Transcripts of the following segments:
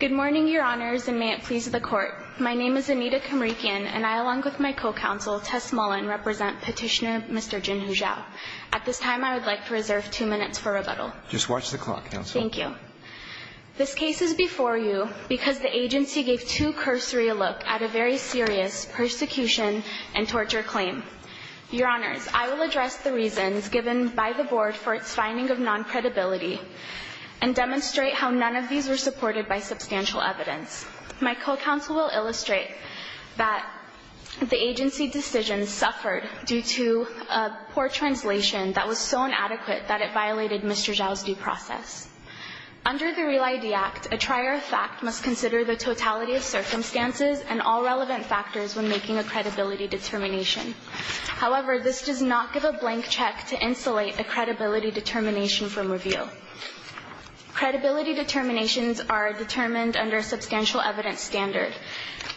Good morning, Your Honors, and may it please the Court. My name is Anita Kamrykian, and I, along with my co-counsel, Tess Mullen, represent petitioner Mr. Jinhu Zhao. At this time, I would like to reserve two minutes for rebuttal. Just watch the clock, Counsel. Thank you. This case is before you because the agency gave too cursory a look at a very serious persecution and torture claim. Your Honors, I will address the reasons given by the Board for its finding of non-credibility and demonstrate how none of these were supported by substantial evidence. My co-counsel will illustrate that the agency decision suffered due to a poor translation that was so inadequate that it violated Mr. Zhao's due process. Under the Real ID Act, a trier of fact must consider the totality of circumstances and all relevant factors when making a credibility determination. However, this does not give a blank check to insulate a credibility determination from review. Credibility determinations are determined under a substantial evidence standard,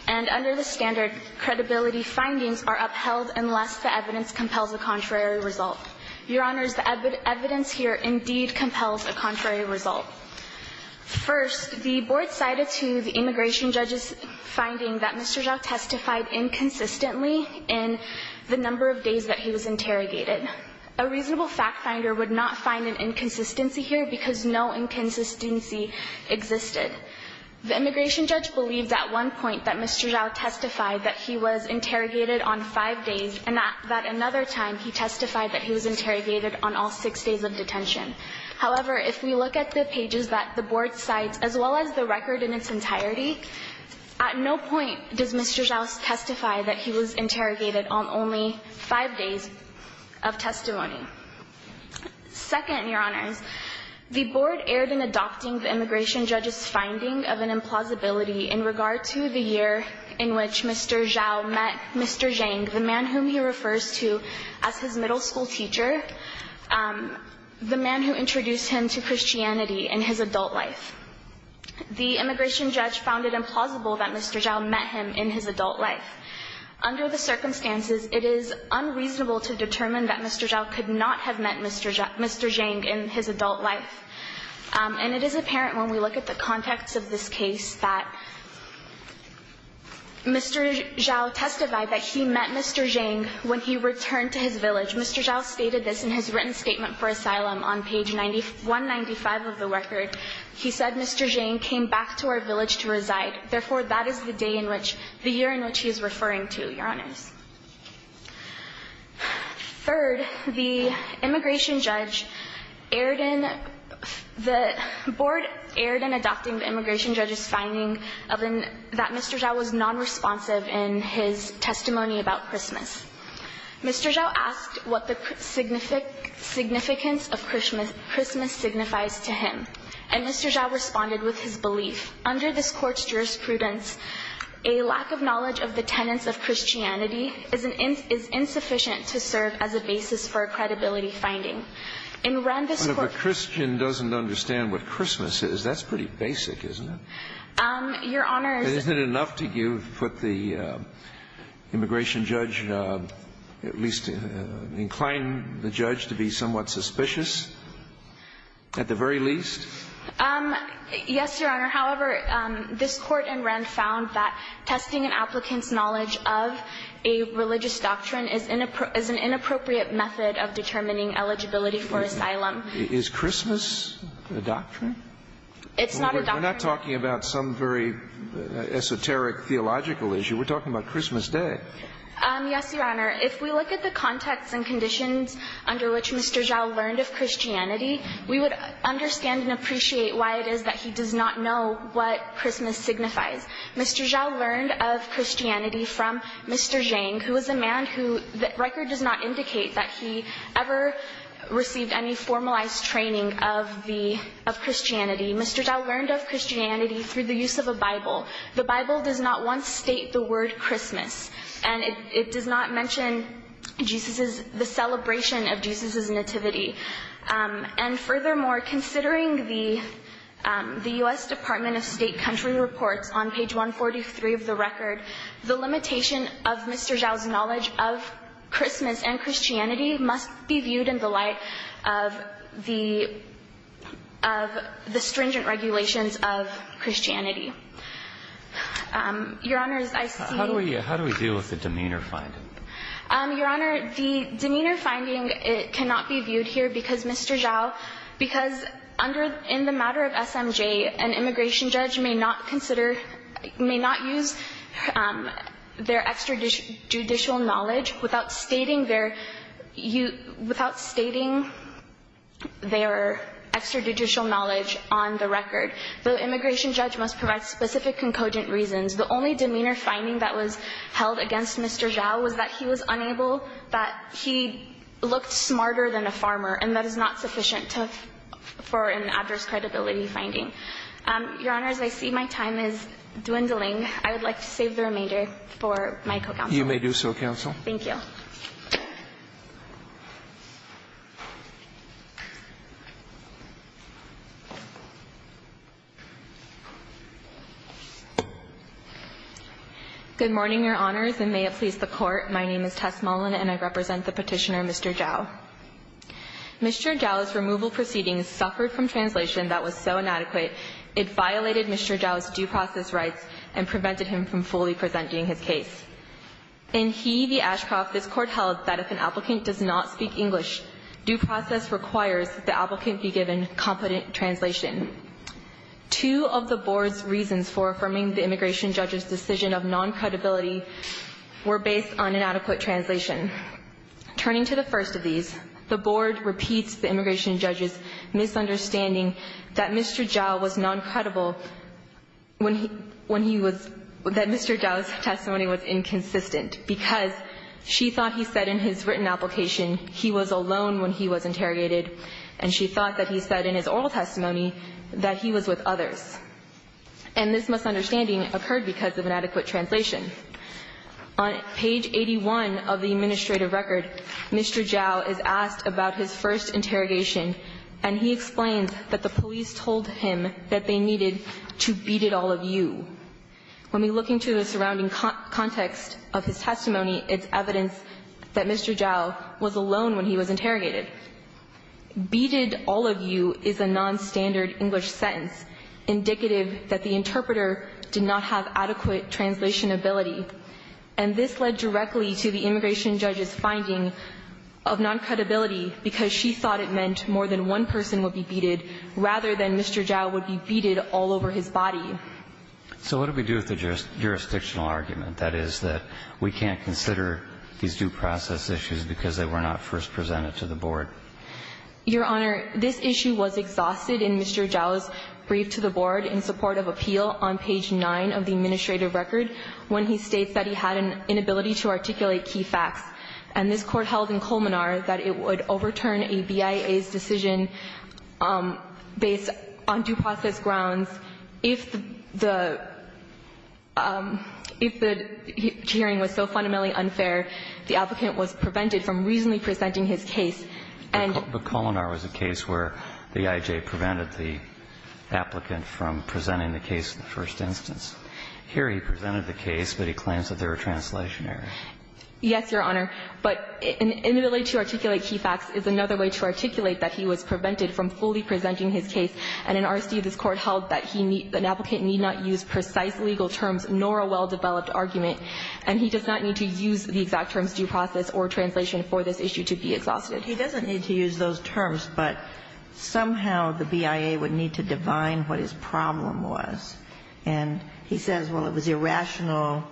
and under the standard, credibility findings are upheld unless the evidence compels a contrary result. Your Honors, the evidence here indeed compels a contrary result. First, the Board cited to the immigration judge's finding that Mr. Zhao testified inconsistently in the number of days that he was interrogated. A reasonable fact finder would not find an inconsistency here because no inconsistency existed. The immigration judge believed at one point that Mr. Zhao testified that he was interrogated on five days and that another time he testified that he was interrogated on all six days of detention. However, if we look at the pages that the Board cites, as well as the record in its entirety, at no point does Mr. Zhao testify that he was interrogated on only five days of testimony. Second, Your Honors, the Board erred in adopting the immigration judge's finding of an implausibility in regard to the year in which Mr. Zhao met Mr. Zhang, the man whom he refers to as his middle school teacher, the man who introduced him to Christianity in his adult life. The immigration judge found it implausible that Mr. Zhao met him in his adult life. Under the circumstances, it is unreasonable to determine that Mr. Zhao could not have met Mr. Zhang in his adult life. And it is apparent when we look at the context of this case that Mr. Zhao testified that he met Mr. Zhang when he returned to his village. Mr. Zhao stated this in his written statement for asylum on page 195 of the record. He said Mr. Zhang came back to our village to reside. Therefore, that is the day in which, the year in which he is referring to, Your Honors. Third, the immigration judge erred in, the Board erred in adopting the immigration judge's finding that Mr. Zhao was nonresponsive in his testimony about Christmas. Mr. Zhao asked what the significance of Christmas signifies to him. And Mr. Zhao responded with his belief. Under this Court's jurisprudence, a lack of knowledge of the tenets of Christianity is insufficient to serve as a basis for a credibility finding. In Rand, this Court --- But if a Christian doesn't understand what Christmas is, that's pretty basic, isn't it? Your Honors -- Isn't it enough to put the immigration judge, at least incline the judge to be somewhat suspicious, at the very least? Yes, Your Honor. However, this Court in Rand found that testing an applicant's knowledge of a religious doctrine is an inappropriate method of determining eligibility for asylum. Is Christmas a doctrine? It's not a doctrine. We're not talking about some very esoteric theological issue. We're talking about Christmas Day. Yes, Your Honor. If we look at the context and conditions under which Mr. Zhao learned of Christianity, we would understand and appreciate why it is that he does not know what Christmas signifies. Mr. Zhao learned of Christianity from Mr. Zhang, who is a man who the use of a Bible. The Bible does not once state the word Christmas, and it does not mention Jesus's, the celebration of Jesus's nativity. And furthermore, considering the U.S. Department of State country reports on page 143 of the record, the limitation of Mr. Zhao's knowledge of Christmas and Christianity must be viewed in the light of the stringent regulations of Christianity. Your Honor, as I see it How do we deal with the demeanor finding? Your Honor, the demeanor finding cannot be viewed here because Mr. Zhao, because in the matter of SMJ, an immigration judge may not consider, may not use their extrajudicial knowledge without stating their, without stating their extrajudicial knowledge on the record. The immigration judge must provide specific concogent reasons. The only demeanor finding that was held against Mr. Zhao was that he was unable, that he looked smarter than a farmer, and that is not sufficient for an adverse outcome. Thank you. My co-counsel. You may do so, counsel. Thank you. Good morning, Your Honors, and may it please the Court. My name is Tess Mullin, and I represent the Petitioner Mr. Zhao. Mr. Zhao's removal proceedings suffered from translation that was so inadequate, it violated Mr. Zhao's due process rights and prevented him from fully presenting his case. In he v. Ashcroft, this Court held that if an applicant does not speak English, due process requires the applicant be given competent translation. Two of the Board's reasons for affirming the immigration judge's decision of non-credibility were based on inadequate translation. Turning to the first of these, the Board repeats the immigration judge's misunderstanding that Mr. Zhao was non-credible when he was – that Mr. Zhao's testimony was inconsistent because she thought he said in his written application he was alone when he was interrogated, and she thought that he said in his oral testimony that he was with others. And this misunderstanding occurred because of inadequate translation. On page 81 of the administrative record, Mr. Zhao is asked about his first interrogation, and he explains that the police told him that they needed to beaded all of you. When we look into the surrounding context of his testimony, it's evidence that Mr. Zhao was alone when he was interrogated. Beaded all of you is a nonstandard English sentence indicative that the interpreter did not have adequate translation ability, and this led directly to the immigration judge's finding of non-credibility because she thought it meant more than one person would be beaded rather than Mr. Zhao would be beaded all over his body. So what do we do with the jurisdictional argument, that is, that we can't consider these due process issues because they were not first presented to the Board? Your Honor, this issue was exhausted in Mr. Zhao's brief to the Board in support of appeal on page 9 of the administrative record when he states that he had an inability to articulate key facts, and this Court held in Colmenar that it would overturn a BIA's decision based on due process grounds if the hearing was so fundamentally unfair, the applicant was prevented from reasonably presenting his case, and the Colmenar was a case where the IJ prevented the applicant from presenting the case in the first instance. Here he presented the case, but he claims that there were translation errors. Yes, Your Honor. But an inability to articulate key facts is another way to articulate that he was prevented from fully presenting his case, and in R.C., this Court held that an applicant need not use precise legal terms nor a well-developed argument, and he does not need to use the exact terms due process or translation for this issue to be exhausted. He doesn't need to use those terms, but somehow the BIA would need to divine what his problem was. And he says, well, it was irrational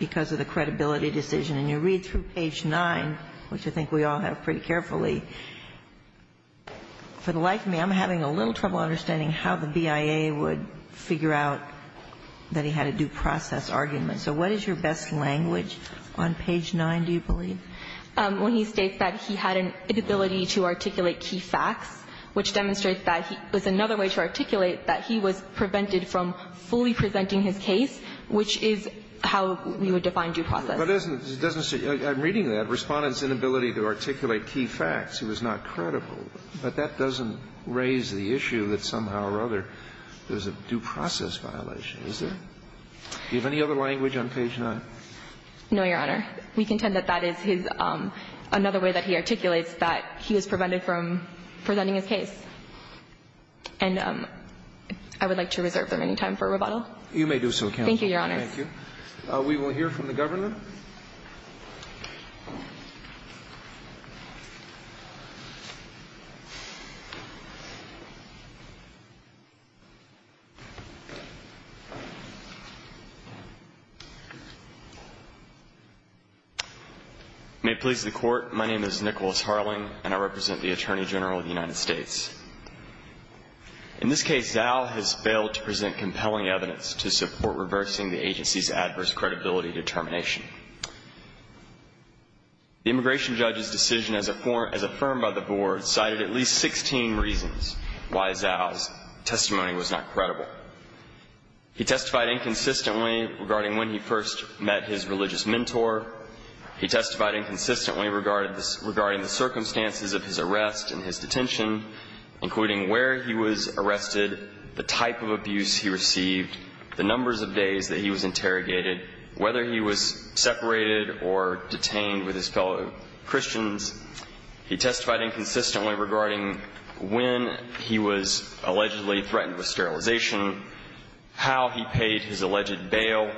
because of the credibility decision. And you read through page 9, which I think we all have pretty carefully, for the life of me, I'm having a little trouble understanding how the BIA would figure out that he had a due process argument. So what is your best language on page 9, do you believe? Well, he states that he had an inability to articulate key facts, which demonstrates that he was another way to articulate that he was prevented from fully presenting his case, which is how we would define due process. But it doesn't say, I'm reading that, Respondent's inability to articulate key facts, he was not credible. But that doesn't raise the issue that somehow or other there's a due process violation, is there? Do you have any other language on page 9? No, Your Honor. We contend that that is his, another way that he articulates that he was prevented from presenting his case. And I would like to reserve them any time for rebuttal. You may do so, Counsel. Thank you, Your Honor. Thank you. We will hear from the Governor. May it please the Court. My name is Nicholas Harling, and I represent the Attorney General of the United States. In this case, Zao has failed to present compelling evidence to support reversing the agency's adverse credibility determination. The immigration judge's decision as affirmed by the Board cited at least 16 reasons why Zao's testimony was not credible. He testified inconsistently regarding when he first met his religious mentor. He testified inconsistently regarding the circumstances of his arrest and his detention, including where he was arrested, the type of abuse he suffered, whether he was separated or detained with his fellow Christians. He testified inconsistently regarding when he was allegedly threatened with sterilization, how he paid his alleged bail.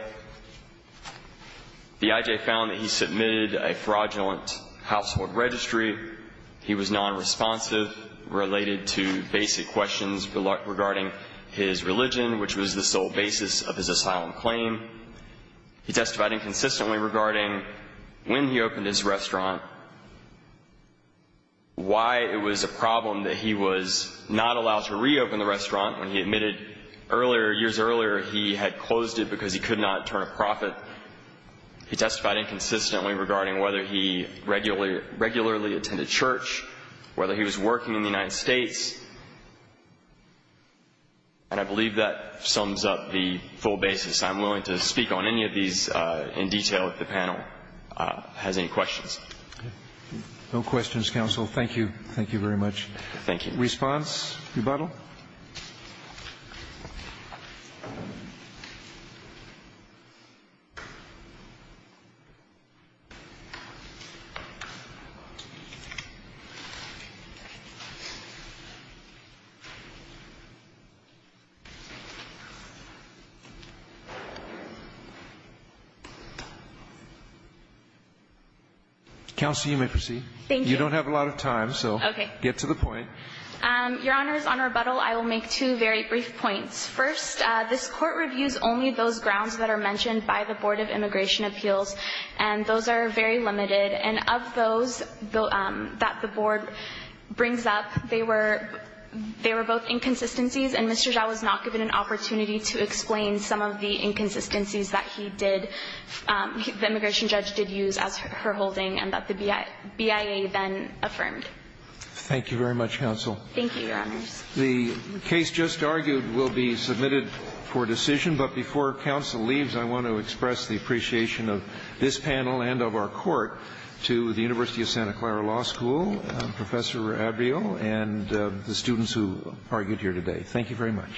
The I.J. found that he submitted a fraudulent household registry. He was nonresponsive, related to basic questions regarding his religion, which was the sole basis of his asylum claim. He testified inconsistently regarding when he opened his restaurant, why it was a problem that he was not allowed to reopen the restaurant when he admitted earlier, years earlier, he had closed it because he could not turn a profit. He testified inconsistently regarding whether he regularly attended church, whether he was working in the United States. And I believe that sums up the full basis. I'm willing to speak on any of these in detail if the panel has any questions. No questions, counsel. Thank you. Thank you very much. Response, rebuttal? Counsel, you may proceed. Thank you. You don't have a lot of time, so get to the point. Your Honor, on rebuttal, I will make two very brief points. First, this court reviews only those grounds that are mentioned by the Board of Immigration Appeals, and those are very limited. And of those that the Board brings up, they were both inconsistencies, and Mr. Zhao was not given an opportunity to explain some of the inconsistencies that he did, the immigration judge did use as her holding, and that the BIA then affirmed. Thank you very much, counsel. Thank you, Your Honors. The case just argued will be submitted for decision, but before counsel leaves, I want to express the appreciation of this panel and of our court to the University of Santa Clara Law School, Professor Abreu, and the students who argued here today. Thank you very much.